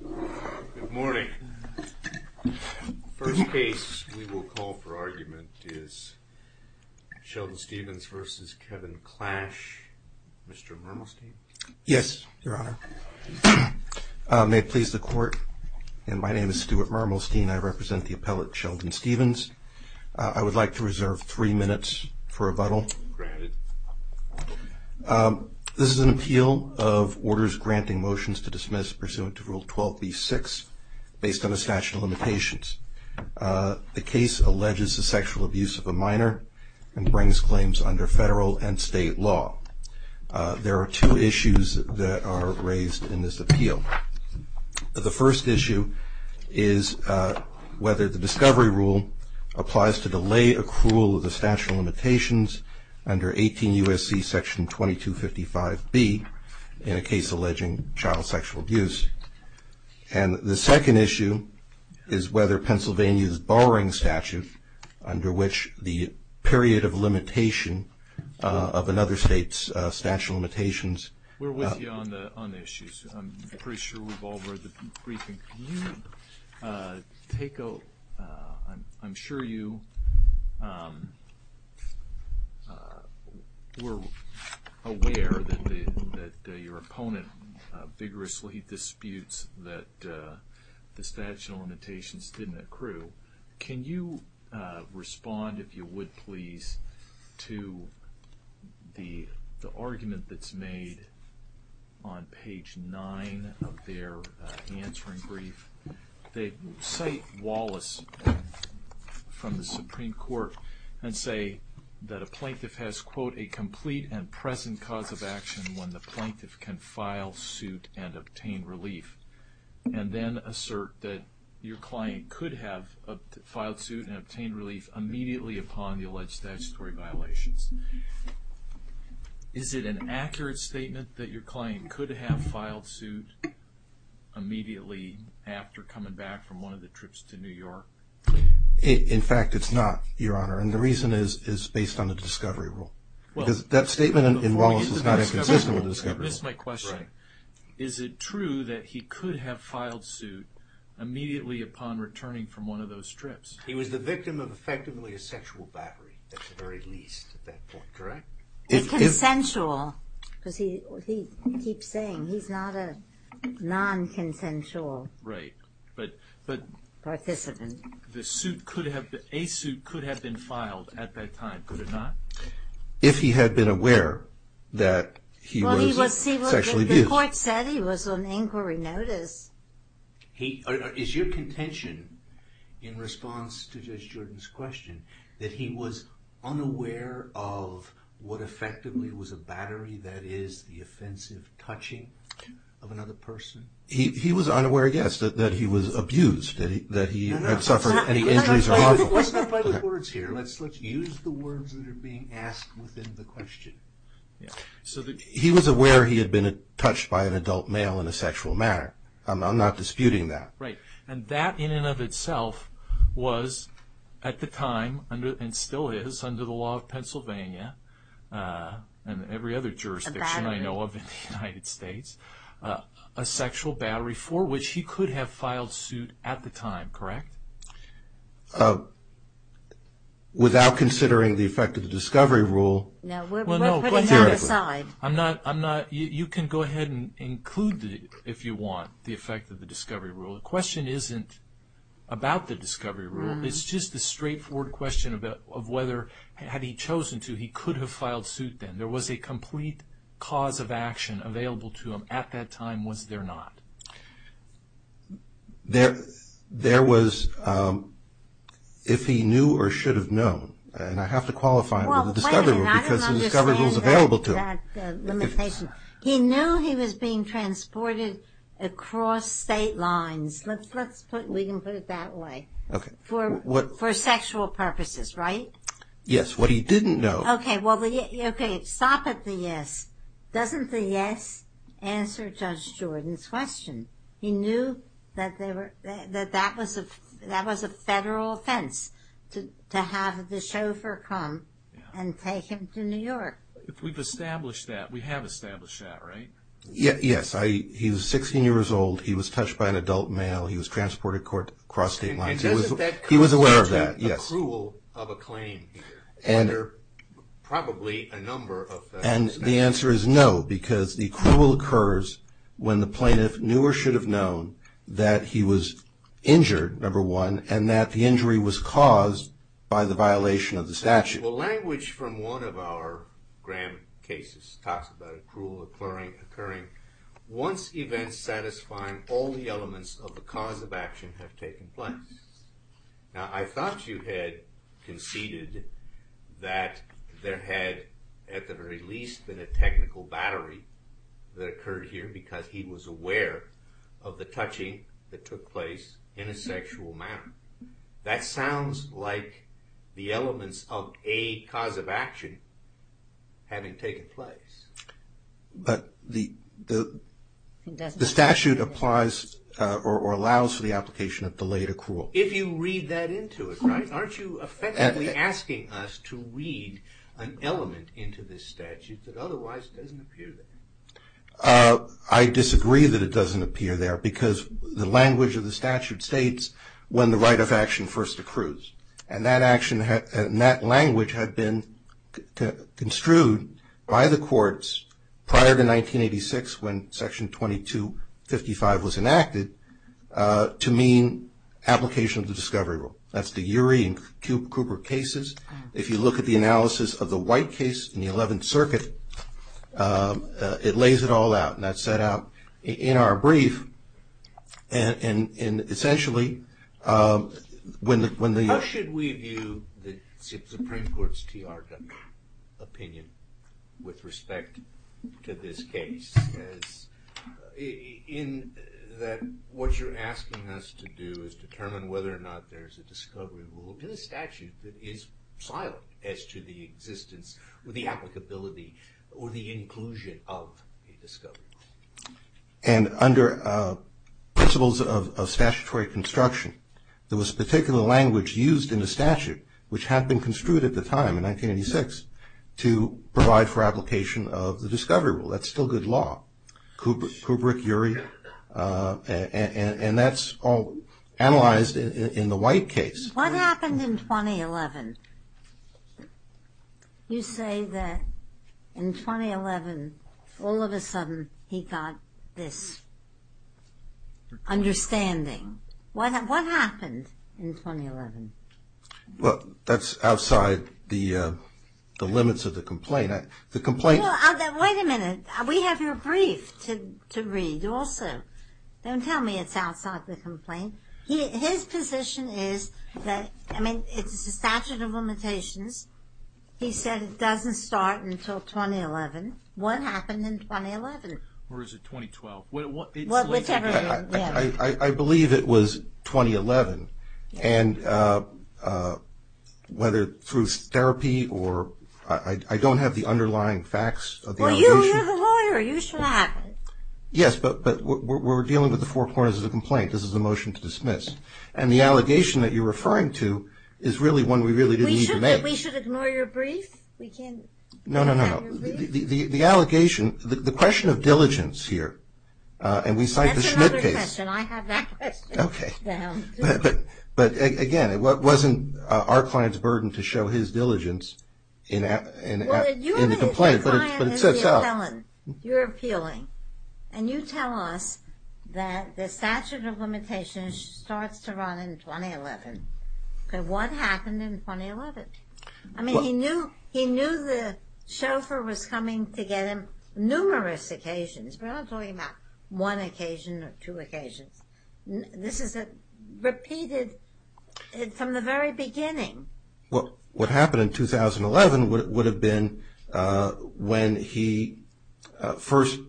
Good morning. First case we will call for argument is Sheldon Stevens v. Kevin Clash. Mr. Murmelstein? Yes, your honor. May it please the court and my name is Stuart Murmelstein. I represent the appellate Sheldon Stevens. I would like to reserve three minutes for rebuttal. Granted. This is an appeal of orders granting motions to dismiss pursuant to rule 12b-6 based on a statute of limitations. The case alleges the sexual abuse of a minor and brings claims under federal and state law. There are two issues that are raised in this appeal. The first issue is whether the 18 U.S.C. section 2255B in a case alleging child sexual abuse and the second issue is whether Pennsylvania's borrowing statute under which the period of limitation of another state's statute of limitations. We're with you on the issues. I'm pretty sure we've all heard the were aware that your opponent vigorously disputes that the statute of limitations didn't accrue. Can you respond if you would please to the argument that's made on page 9 of their and present cause of action when the plaintiff can file suit and obtain relief and then assert that your client could have filed suit and obtained relief immediately upon the alleged statutory violations. Is it an accurate statement that your client could have filed suit immediately after coming back from one of the trips to New York? In fact it's not your honor and the reason is based on the discovery rule. Because that statement in Wallace is not as consistent with the discovery rule. Is it true that he could have filed suit immediately upon returning from one of those trips? He was the victim of effectively a sexual battery at the very least at that point correct? Consensual because he keeps saying he's not a non-consensual participant. A suit could have been filed at that time could it not? If he had been aware that he was sexually abused. The court said he was on inquiry notice. Is your contention in response to Judge Jordan's question that he was unaware of what effectively was a battery that is the offensive touching of another person? He was unaware yes that he was abused that he had suffered any injuries. Let's use the words that are being asked within the question. So he was aware he had been touched by an adult male in a sexual manner. I'm not disputing that. Right and that in and of itself was at the time under and still is under the law of Pennsylvania and every other jurisdiction I a sexual battery for which he could have filed suit at the time correct? Without considering the effect of the discovery rule. Now we're putting that aside. I'm not I'm not you can go ahead and include the if you want the effect of the discovery rule. The question isn't about the discovery rule. It's just the straightforward question of whether had he chosen to he could have filed suit then. There was a complete cause of action available to him at that time was there not? There there was if he knew or should have known and I have to qualify it with the discovery rule because the discovery rule is available to him. He knew he was being transported across state lines. Let's let's put we can put it that way. Okay for what for sexual purposes right? Yes what he didn't know. Okay well okay stop at the yes. Doesn't the yes answer Judge Jordan's question? He knew that they were that that was a that was a federal offense to to have the chauffeur come and take him to New York. If we've established that we have established that right? Yeah yes I he was 16 years old. He was touched by an adult male. He was transported across state lines. He was aware of that yes. A cruel of a claim here under probably a number of and the answer is no because the cruel occurs when the plaintiff knew or should have known that he was injured number one and that the injury was caused by the violation of the statute. Well language from one of our gram cases talks about a cruel occurring occurring once events all the elements of the cause of action have taken place. Now I thought you had conceded that there had at the very least been a technical battery that occurred here because he was aware of the touching that took place in a sexual manner. That sounds like the elements of a cause of action having taken place. But the the statute applies or allows for the application of delayed accrual. If you read that into it right aren't you effectively asking us to read an element into this statute that otherwise doesn't appear there? I disagree that it doesn't appear there because the language of the statute states when the right of action first accrues and that action and that language had been construed by the courts prior to 1986 when section 2255 was enacted to mean application of the discovery rule. That's the Urey and Cooper cases. If you look at the analysis of the white case in the 11th circuit it lays it all out and that's set out in our brief and and and essentially um when the when the how should we view the supreme court's TRW opinion with respect to this case as in that what you're asking us to do is determine whether or not there's a discovery rule in the statute that is silent as to the existence or the applicability or the inclusion of a principles of statutory construction. There was a particular language used in the statute which had been construed at the time in 1986 to provide for application of the discovery rule. That's still good law. Kubrick, Urey and and that's all analyzed in the white case. What happened in 2011? You say that in 2011 all of a sudden he got this understanding. What what happened in 2011? Well that's outside the uh the limits of the complaint. The complaint Wait a minute. We have your brief to to read also. Don't tell me it's outside the complaint. His position is that I mean it's a statute of limitations. He said it doesn't start until 2011. What happened in 2011? Or is it 2012? I believe it was 2011 and uh uh whether through therapy or I don't have the underlying facts. Well you're the lawyer. You should have it. Yes but but we're dealing with the four corners of the complaint. This is a motion to dismiss and the allegation that you're referring to is really one we really didn't need to make. We should ignore your brief. We can't. No no no the the the allegation the question of diligence here uh and we cite the Schmidt case. I have that question. Okay but but again it wasn't uh our client's burden to show his diligence in the complaint. Ellen you're appealing and you tell us that the statute of limitations starts to run in 2011. Okay what happened in 2011? I mean he knew he knew the chauffeur was coming to get him numerous occasions. We're not talking about one occasion or two occasions. This is a repeated from the very beginning. What what happened in 2011 would have been uh when he first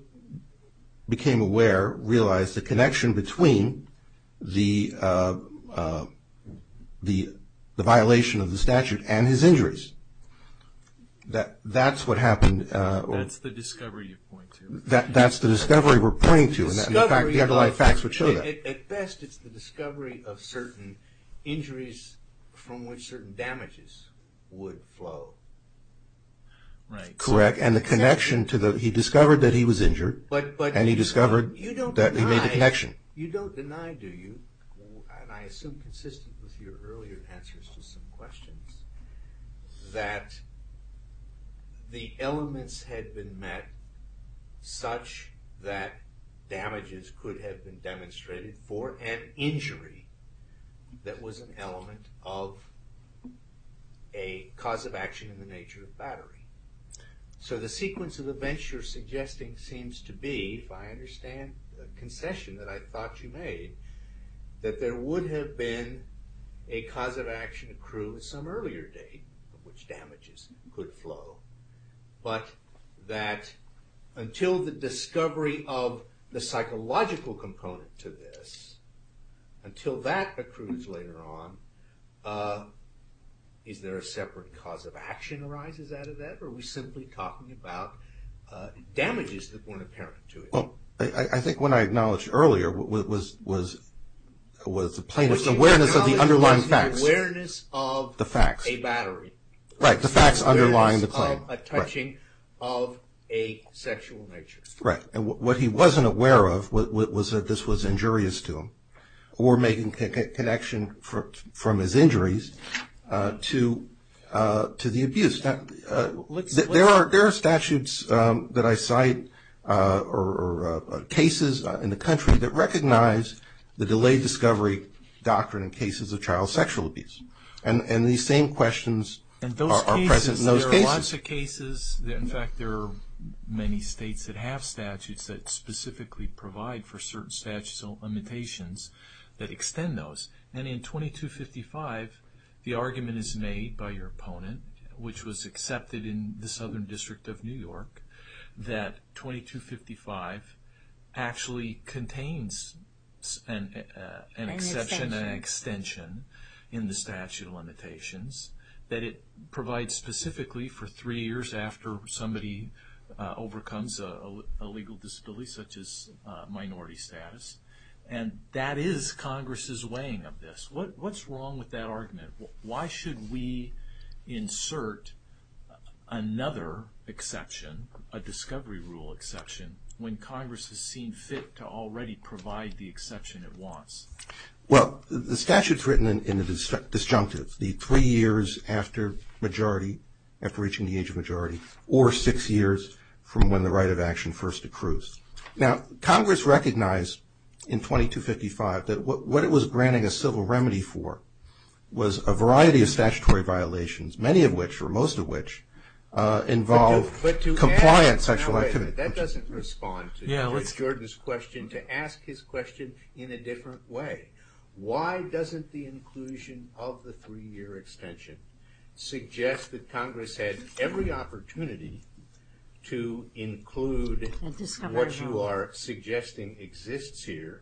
became aware realized the connection between the uh the the violation of the statute and his injuries. That that's what happened. That's the discovery you point to. That that's the discovery we're pointing to and the underlying facts would show that. At best it's the discovery of certain injuries from which certain damages would flow. Right. Correct and the connection to the he discovered that he was injured. But but. And he discovered that he made a connection. You don't deny do you and I assume consistent with your earlier answers to some questions that the elements had been met such that damages could have been demonstrated for an injury that was an element of a cause of action in the nature of battery. So the sequence of events you're suggesting seems to be if I understand the concession that I thought you made that there would have been a cause of action accrued some earlier date of which damages could flow. But that until the discovery of the psychological component to this until that accrues later on is there a separate cause of action arises out of that or are we simply talking about damages that weren't apparent to it? I think when I acknowledged earlier what was was was the plaintiff's awareness of the underlying facts. Awareness of. The facts. A battery. Right the facts underlying the claim. A touching of a sexual nature. Right and what he wasn't aware of what was that this was injurious to him or making connection from his injuries to to the abuse that there are there are statutes that I cite or cases in the country that recognize the delayed discovery doctrine in cases of child sexual abuse and and these same questions are present in those cases. There are lots of cases that in fact there are many states that have statutes that specifically provide for certain statute limitations that extend those and in 2255 the argument is made by your opponent which was accepted in the Southern District of New York that 2255 actually contains an exception an extension in the statute of limitations that it provides specifically for three years after somebody overcomes a legal disability such as minority status and that is weighing of this what what's wrong with that argument why should we insert another exception a discovery rule exception when congress has seen fit to already provide the exception it wants. Well the statute's written in the disjunctive the three years after majority after reaching the age of majority or six years from when the right of action first accrues now congress recognized in 2255 that what it was granting a civil remedy for was a variety of statutory violations many of which or most of which involve compliant sexual activity that doesn't respond to George's question to ask his question in a different way why doesn't the inclusion of the three-year extension suggest that congress had every opportunity to include what you are suggesting exists here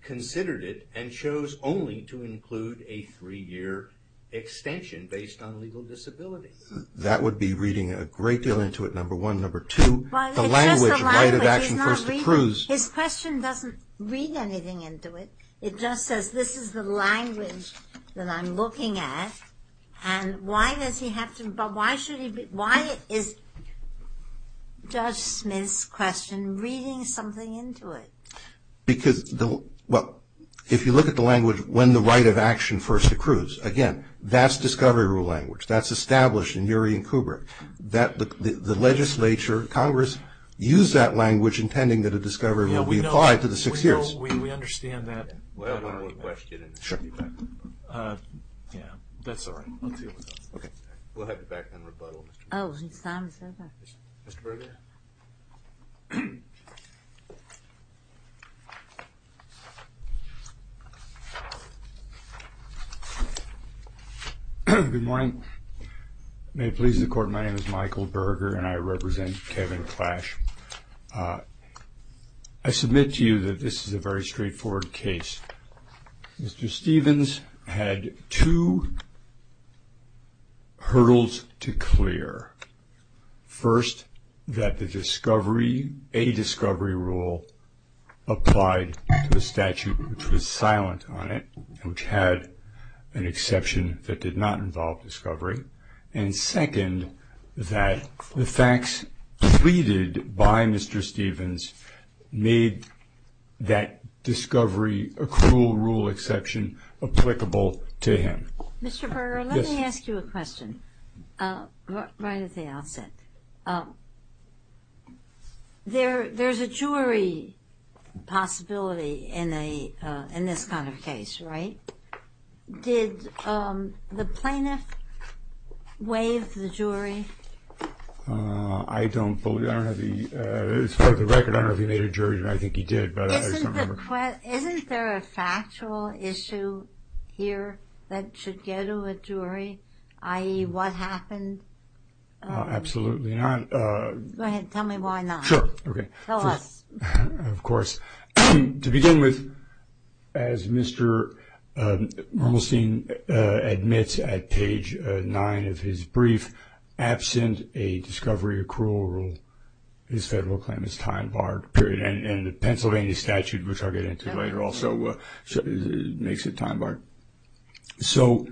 considered it and chose only to include a three-year extension based on legal disability that would be reading a great deal into it number one number two the language right of action first accrues his question doesn't read anything into it it just says this is the language that i'm looking at and why does he have to but why should he be why is judge smith's reading something into it because well if you look at the language when the right of action first accrues again that's discovery rule language that's established in muri and kubrick that the the legislature congress use that language intending that a discovery will be applied to the six years we understand that we'll have one more question sure yeah that's all right okay we'll have you back in rebuttal so good morning may it please the court my name is michael berger and i represent kevin clash i submit to you that this is a very straightforward case mr stevens had two hurdles to clear first that the discovery a discovery rule applied to the statute which was silent on it which had an exception that did not involve discovery and second that the facts pleaded by mr stevens made that discovery a cruel rule exception applicable to mr berger let me ask you a question uh right at the outset uh there there's a jury possibility in a uh in this kind of case right did um the plaintiff waive the jury uh i don't believe i don't have the uh it's part of the record i don't issue here that should go to a jury i.e what happened absolutely not uh go ahead tell me why not sure okay tell us of course to begin with as mr uh normalstein uh admits at page nine of his brief absent a discovery accrual rule his federal claim is time barred period and the pennsylvania statute which i'll get into later also makes it time barred so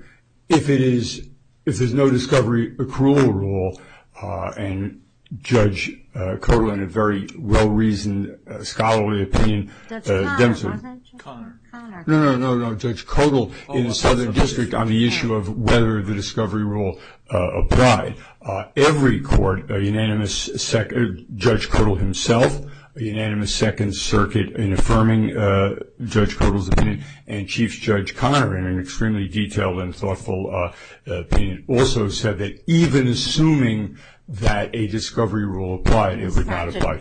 if it is if there's no discovery accrual rule uh and judge uh colon a very well-reasoned scholarly opinion uh no no no no judge codal in the southern district on the issue of whether the discovery rule uh uh every court a unanimous second judge codal himself a unanimous second circuit in affirming uh judge codal's opinion and chief judge connor in an extremely detailed and thoughtful uh also said that even assuming that a discovery rule applied it would not apply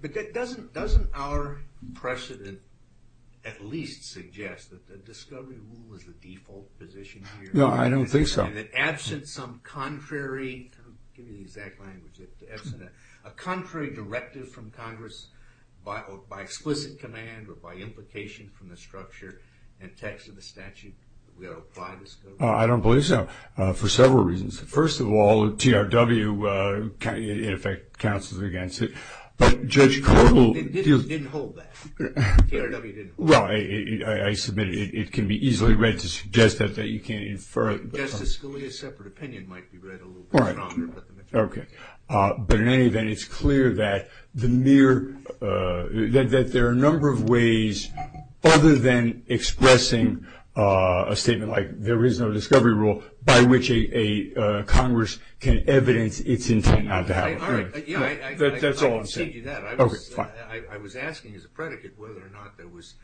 but that doesn't doesn't our precedent at least suggest that the discovery rule is the default no i don't think so that absent some contrary give me the exact language that a contrary directive from congress by by explicit command or by implication from the structure and text of the statute we apply this i don't believe so uh for several reasons first of all trw uh in effect counsels against it but judge codal didn't hold that trw didn't well i i submitted it can be easily read to suggest that that you can't infer justice scalia separate opinion might be read a little bit stronger okay uh but in any event it's clear that the mere uh that that there are a number of ways other than expressing uh a statement like there is no discovery rule by which a a congress can evidence its intent all right yeah that's all i'm saying that i was i was asking as a predicate whether or not there was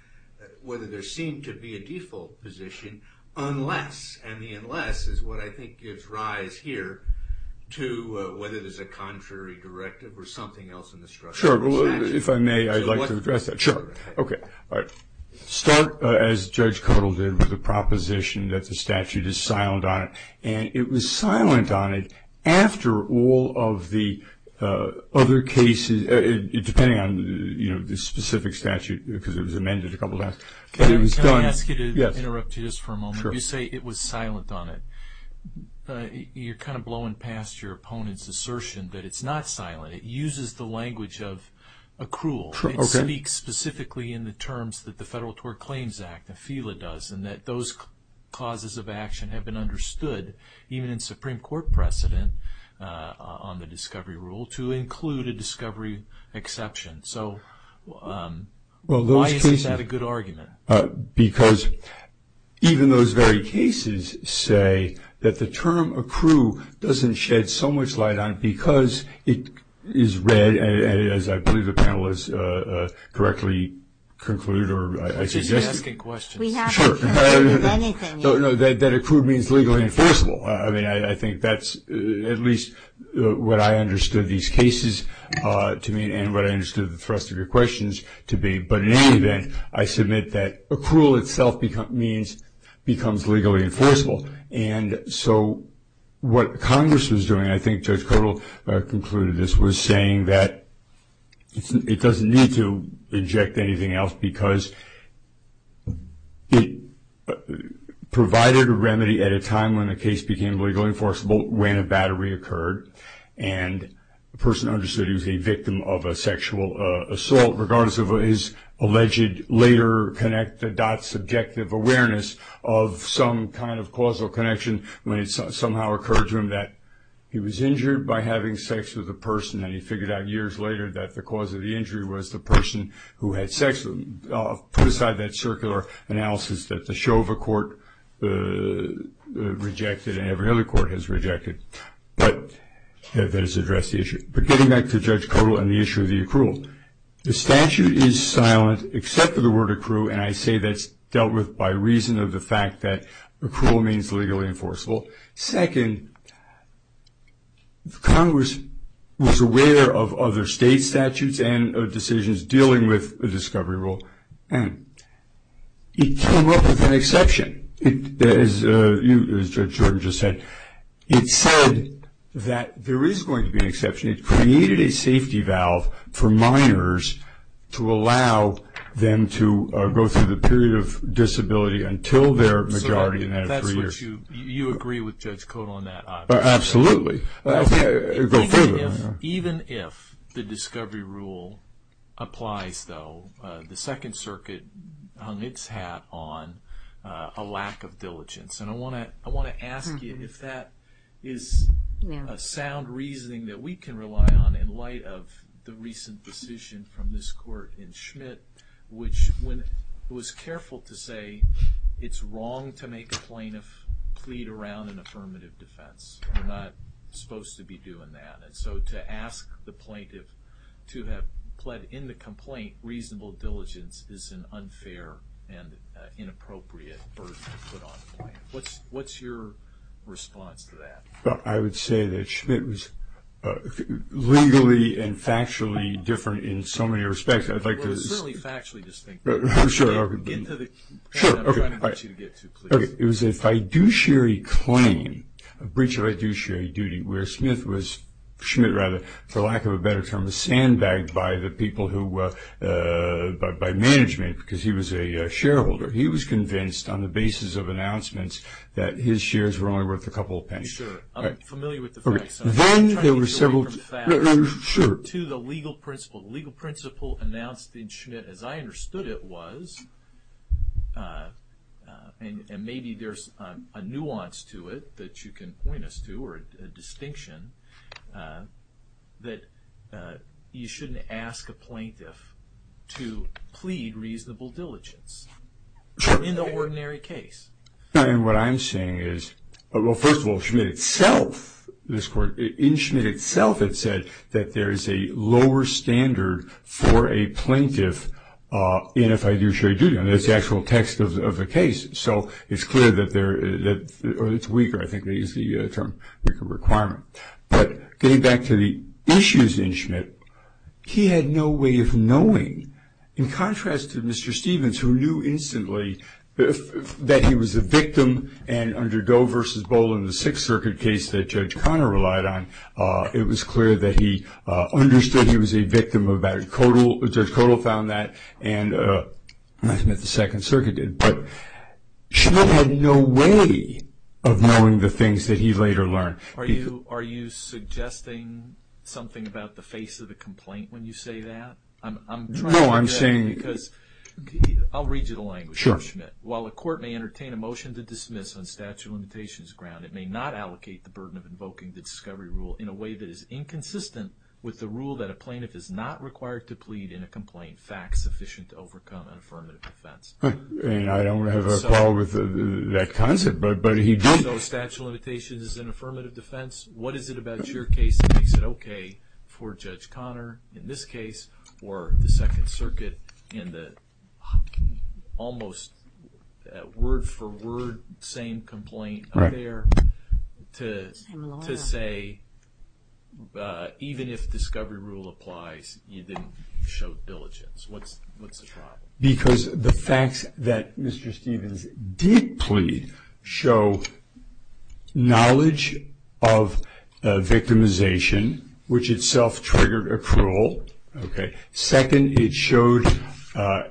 whether there seemed to be a default position unless i mean unless is what i think gives rise here to uh whether there's a contrary directive or something else in the structure sure if i may i'd like to address that sure okay all right start as judge codal did with the proposition that the statute is silent on it and it was silent on it after all of the uh other cases depending on you know the specific statute because it was amended a couple times but it was done i ask you to interrupt you just for a moment you say it was silent on it you're kind of blowing past your opponent's assertion that it's not silent it uses the language of accrual it speaks specifically in the terms that the federal tort claims act and that those causes of action have been understood even in supreme court precedent on the discovery rule to include a discovery exception so um well why is that a good argument because even those very cases say that the term accrue doesn't shed so much light on it because it is read as i believe the panelists uh uh correctly conclude or i suggest asking questions that accrued means legally enforceable i mean i think that's at least what i understood these cases uh to me and what i understood the thrust of your questions to be but in any event i submit that accrual itself become means becomes legally enforceable and so what congress was doing i think judge codal concluded this was saying that it doesn't need to inject anything else because it provided a remedy at a time when the case became legally enforceable when a battery occurred and the person understood he was a victim of a sexual assault regardless of his alleged later connect the dot subjective awareness of some kind of causal connection when it somehow occurred to him that he was injured by having sex with a person and he figured out years later that the cause of the injury was the person who had sex put aside that circular analysis that the shova court rejected and every other court has rejected but that has addressed the issue but getting back to judge codal and the issue of the accrual the statute is silent except for the word accrue and i say that's dealt with by reason of the fact that accrual means legally enforceable second congress was aware of other state statutes and decisions dealing with a discovery rule and it came up with an exception it as uh you as jordan just said it said that there is going to be an exception it created a safety valve for minors to allow them to go through the period of judge code on that absolutely even if the discovery rule applies though the second circuit hung its hat on a lack of diligence and i want to i want to ask you if that is a sound reasoning that we can rely on in light of the recent decision from this court in schmidt which when it was affirmative defense we're not supposed to be doing that and so to ask the plaintiff to have pled in the complaint reasonable diligence is an unfair and inappropriate burden to put on the client what's what's your response to that well i would say that schmidt was legally and factually different in so many respects i'd like to certainly factually distinct but i'm sure i'll get to the sure okay it was a fiduciary claim a breach of fiduciary duty where smith was schmidt rather for lack of a better term a sandbag by the people who uh by management because he was a shareholder he was convinced on the basis of announcements that his shares were only worth a couple of pennies sure i'm familiar with the facts then there were several sure to the legal principle legal principle announced in schmidt as i understood it was uh and and maybe there's a nuance to it that you can point us to or a distinction uh that uh you shouldn't ask a plaintiff to plead reasonable diligence in the ordinary case and what i'm saying is well first of all itself this court in schmidt itself it said that there is a lower standard for a plaintiff uh and if i do share duty on this actual text of the case so it's clear that they're that or it's weaker i think they use the term requirement but getting back to the issues in schmidt he had no way of knowing in contrast to mr stevens who knew instantly that he was a victim and under go in the sixth circuit case that judge connor relied on uh it was clear that he uh understood he was a victim of that codal judge codal found that and uh i think that the second circuit did but schmidt had no way of knowing the things that he later learned are you are you suggesting something about the face of the complaint when you say that i'm i'm no i'm saying because i'll read you the language of schmidt while the court may entertain a motion to dismiss on statute of grounds it may not allocate the burden of invoking the discovery rule in a way that is inconsistent with the rule that a plaintiff is not required to plead in a complaint fact sufficient to overcome an affirmative defense and i don't have a problem with that concept but but he did no statute of limitations is an affirmative defense what is it about your case that makes it okay for judge there to to say uh even if discovery rule applies you didn't show diligence what's what's the trial because the facts that mr stevens did plead show knowledge of victimization which itself triggered approval okay second it showed uh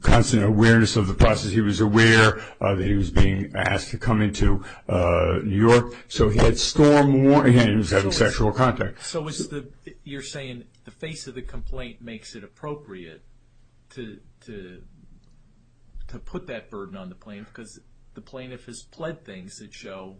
constant awareness of the process he was aware uh that he was being asked to come into uh new york so he had storm warnings having sexual contact so was the you're saying the face of the complaint makes it appropriate to to to put that burden on the plaintiff because the plaintiff has pled things that show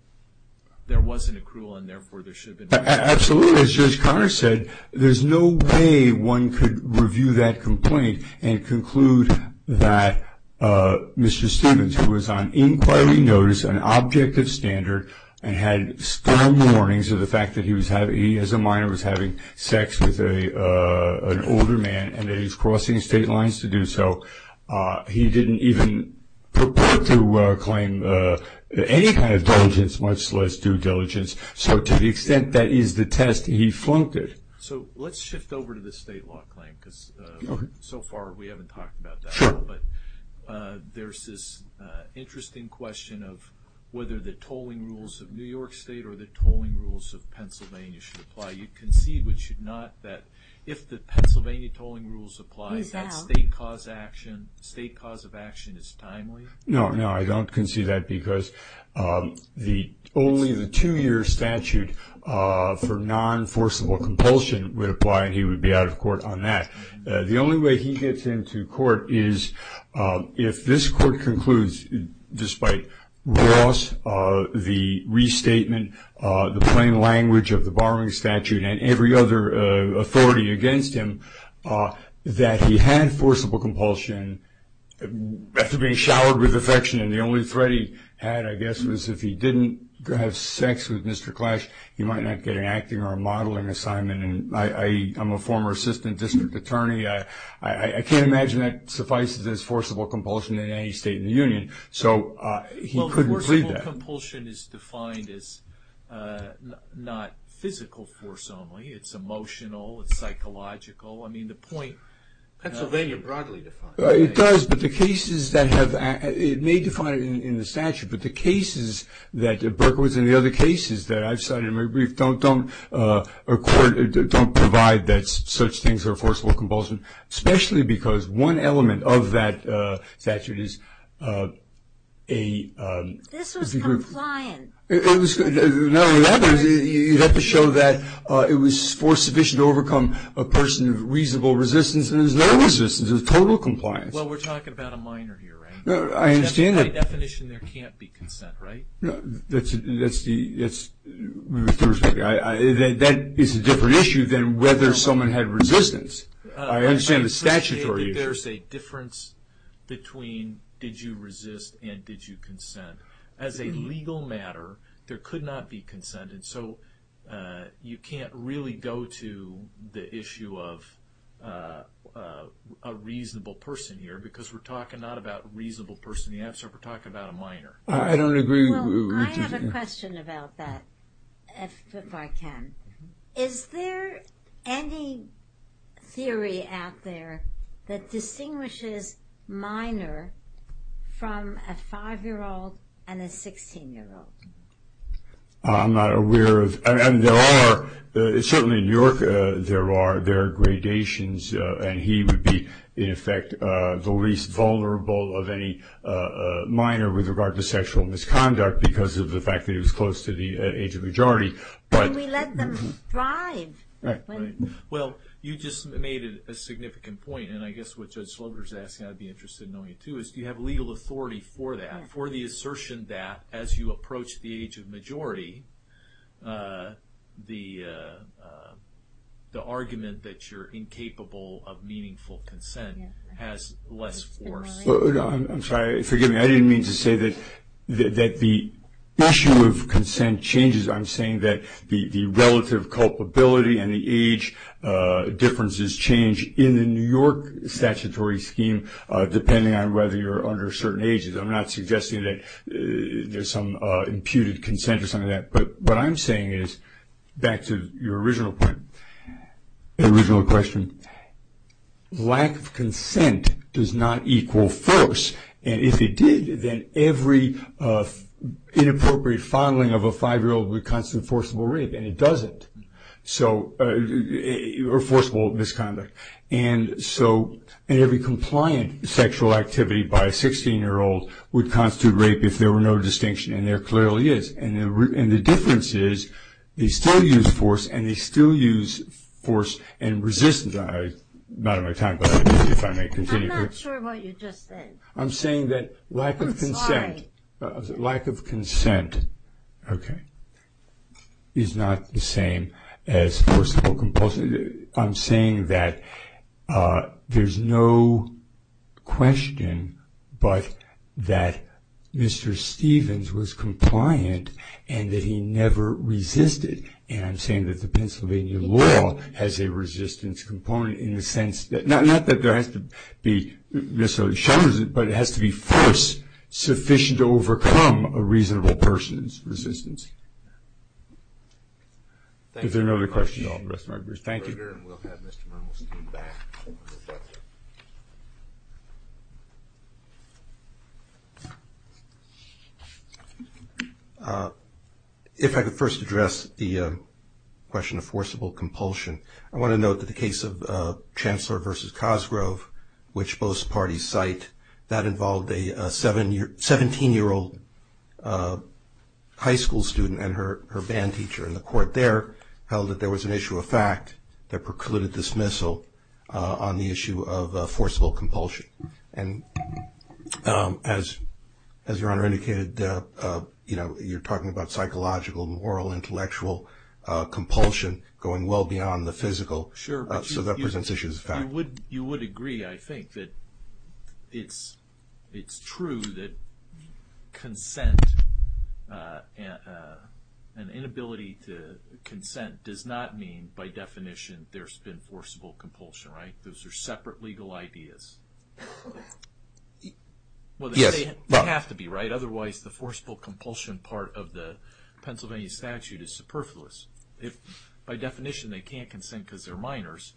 there wasn't a cruel and therefore there should have been absolutely as judge connor said there's no way one could review that complaint and conclude that uh mr stevens who was on inquiry notice an object of standard and had storm warnings of the fact that he was having he as a minor was having sex with a uh an older man and he's crossing state lines to do so uh he didn't even purport to uh claim uh any kind of diligence much less due diligence so to the extent that is the test he flunked it so let's shift over to the state law claim because uh so far we haven't talked about that but uh there's this uh interesting question of whether the tolling rules of new york state or the tolling rules of pennsylvania should apply you concede which should not that if the pennsylvania tolling rules apply that state cause action state cause of action is timely no no i don't conceive that um the only the two-year statute uh for non-forcible compulsion would apply and he would be out of court on that the only way he gets into court is uh if this court concludes despite loss uh the restatement uh the plain language of the borrowing statute and every other authority against him uh that he had forcible compulsion after being showered with affection and the only threat he had i guess was if he didn't have sex with mr clash he might not get an acting or modeling assignment and i i i'm a former assistant district attorney i i i can't imagine that suffices as forcible compulsion in any state in the union so uh he couldn't believe that compulsion is defined as uh not physical force only it's emotional it's psychological i mean the point pennsylvania broadly defined it does but the cases that have it may define it in the statute but the cases that burke was in the other cases that i've cited in my brief don't don't uh accord don't provide that such things are forcible compulsion especially because one element of that uh statute is uh a um this was compliant it was not only that you have to show that uh it was for sufficient to overcome a person of reasonable resistance and there's no resistance there's total compliance well we're talking about a minor here right no i understand by definition there can't be consent right no that's that's the that's with the respect i i that that is a different issue than whether someone had resistance i understand the statutory there's a difference between did you resist and did you consent as a legal matter there could not be consent and so uh you can't really go to the issue of uh a reasonable person here because we're talking not about reasonable person the answer we're talking about a minor i don't agree i have a question about that if i can is there any theory out there that distinguishes minor from a five-year-old and a 16-year-old i'm not aware of and there are certainly in new york uh there are there are gradations uh and he would be in effect uh the least vulnerable of any uh minor with regard to sexual misconduct because of the fact that he was close to the age of majority but we let them thrive right well you just made it a significant point and i guess what judge asking i'd be interested in knowing you too is do you have legal authority for that for the assertion that as you approach the age of majority uh the uh the argument that you're incapable of meaningful consent has less force i'm sorry forgive me i didn't mean to say that that the issue of consent changes i'm saying that the the relative culpability and the age uh differences change in the new york statutory scheme uh depending on whether you're under certain ages i'm not suggesting that there's some uh imputed consent or something like that but what i'm saying is back to your original point original question lack of consent does not equal force and if it did then every uh inappropriate fondling of a five-year-old would constitute forcible rape and it doesn't so uh or forcible misconduct and so in every compliant sexual activity by a 16-year-old would constitute rape if there were no distinction and there clearly is and the difference is they still use force and they still use force and resistance i'm not in my time but if i may continue i'm not sure what you just said i'm saying that lack of consent lack of consent okay is not the same as forcible compulsion i'm saying that uh there's no question but that mr stevens was compliant and that he never resisted and i'm saying that the pennsylvania law has a resistance component in the sense that not not that there has to be necessarily shunned but it has to be forced sufficient to overcome a reasonable person's resistance is there another question thank you if i could first address the question of forcible compulsion i want to note that the case of uh which both parties cite that involved a seven year 17 year old uh high school student and her her band teacher in the court there held that there was an issue of fact that precluded dismissal on the issue of forcible compulsion and um as as your honor indicated uh you know you're talking about psychological moral intellectual uh compulsion going well beyond the physical sure so that presents issues in fact you would you would agree i think that it's it's true that consent uh and inability to consent does not mean by definition there's been forcible compulsion right those are separate legal ideas well they have to be right otherwise the forcible compulsion part of the pennsylvania statute is superfluous if by definition they can't consent because they're minors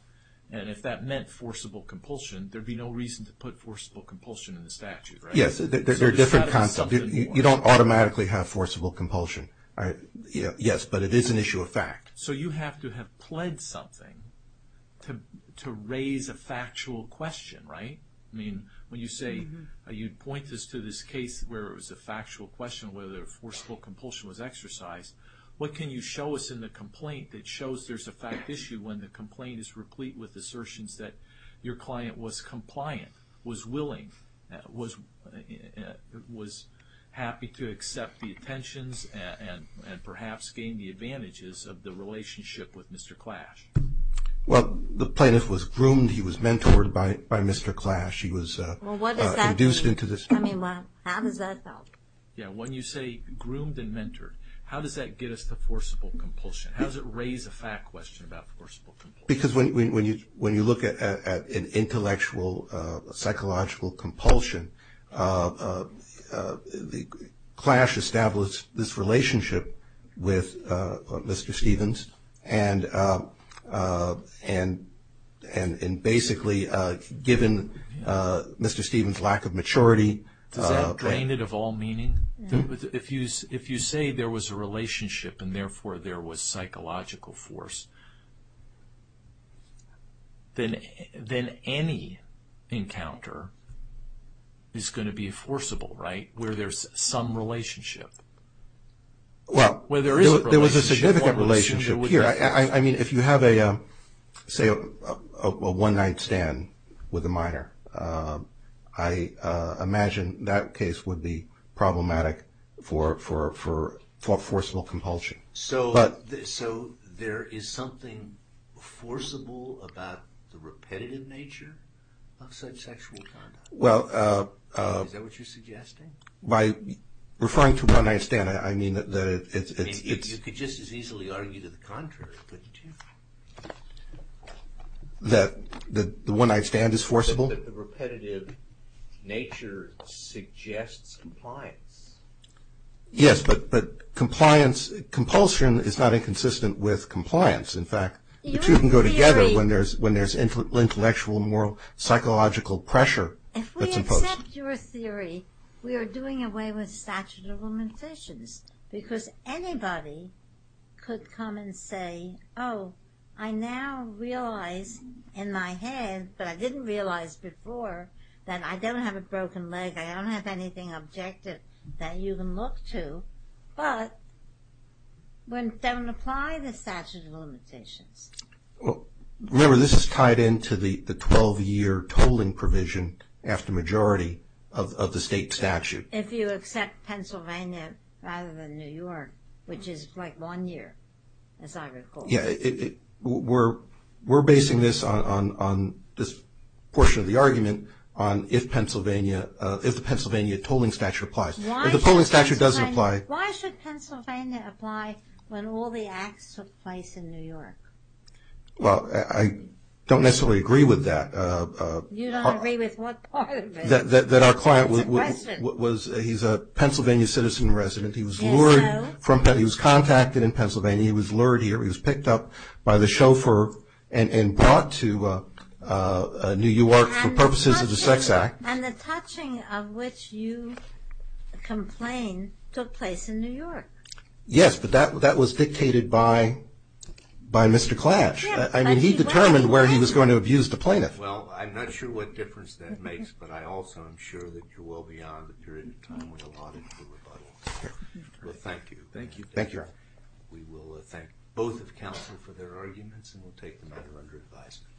and if that meant forcible compulsion there'd be no reason to put forcible compulsion in the statute yes they're different concepts you don't automatically have forcible compulsion all right yeah yes but it is an issue of fact so you have to have pledged something to to raise a factual question right i mean when you say you'd point this to this case where it was a factual question whether forcible compulsion was exercised what can you show us in the complaint that shows there's a fact issue when the complaint is replete with assertions that your client was compliant was willing was was happy to accept the attentions and and perhaps gain the advantages of the relationship with mr clash well the plaintiff was groomed he was mentored by by mr clash he was uh well what is that induced into this i mean what how does that yeah when you say groomed and mentored how does that get us the forcible compulsion how does it raise a fact question about forcible because when when you when you look at an intellectual uh psychological compulsion uh uh the clash established this relationship with uh mr stevens and uh uh and and and basically uh given uh mr stevens lack of maturity does that drain it of all meaning if you if you say there was a relationship and therefore there was psychological force then then any encounter is going to be forcible right where there's some relationship well where there is there was a significant relationship here i i mean if you have a um say a one-night stand with a minor um i uh imagine that case would be problematic for for for forcible compulsion so but so there is something forcible about the repetitive nature of such sexual conduct well uh uh is that what you're suggesting by referring to when i stand i mean that it's you could just as easily argue to the contrary but that the one i stand is forcible the repetitive nature suggests compliance yes but but compliance compulsion is not inconsistent with compliance in fact the two can go together when there's when there's intellectual moral psychological pressure if we accept your theory we are doing away with statute of limitations because anybody could come and say oh i now realize in my head but i didn't realize before that i don't have a broken leg i don't have anything objective that you can look to but when don't apply the statute of limitations well remember this is tied into the the 12-year tolling provision after majority of the state statute if you accept pennsylvania rather than new york which is like one year as i recall yeah it we're we're basing this on on this portion of the argument on if pennsylvania uh if the pennsylvania tolling statute applies if the polling statute doesn't apply why should pennsylvania apply when all the acts took place in new york well i don't necessarily agree with that uh you don't agree with what part of it that that our client was he's a pennsylvania citizen resident he was lured from he was contacted in pennsylvania he was lured here he was picked up by the chauffeur and and brought to uh uh new york for purposes of the sex act and the touching of which you complain took place in by mr clash i mean he determined where he was going to abuse the plaintiff well i'm not sure what difference that makes but i also am sure that you're well beyond the period of time we allotted for rebuttal well thank you thank you thank you we will thank both of counsel for their arguments and we'll take the matter under advisement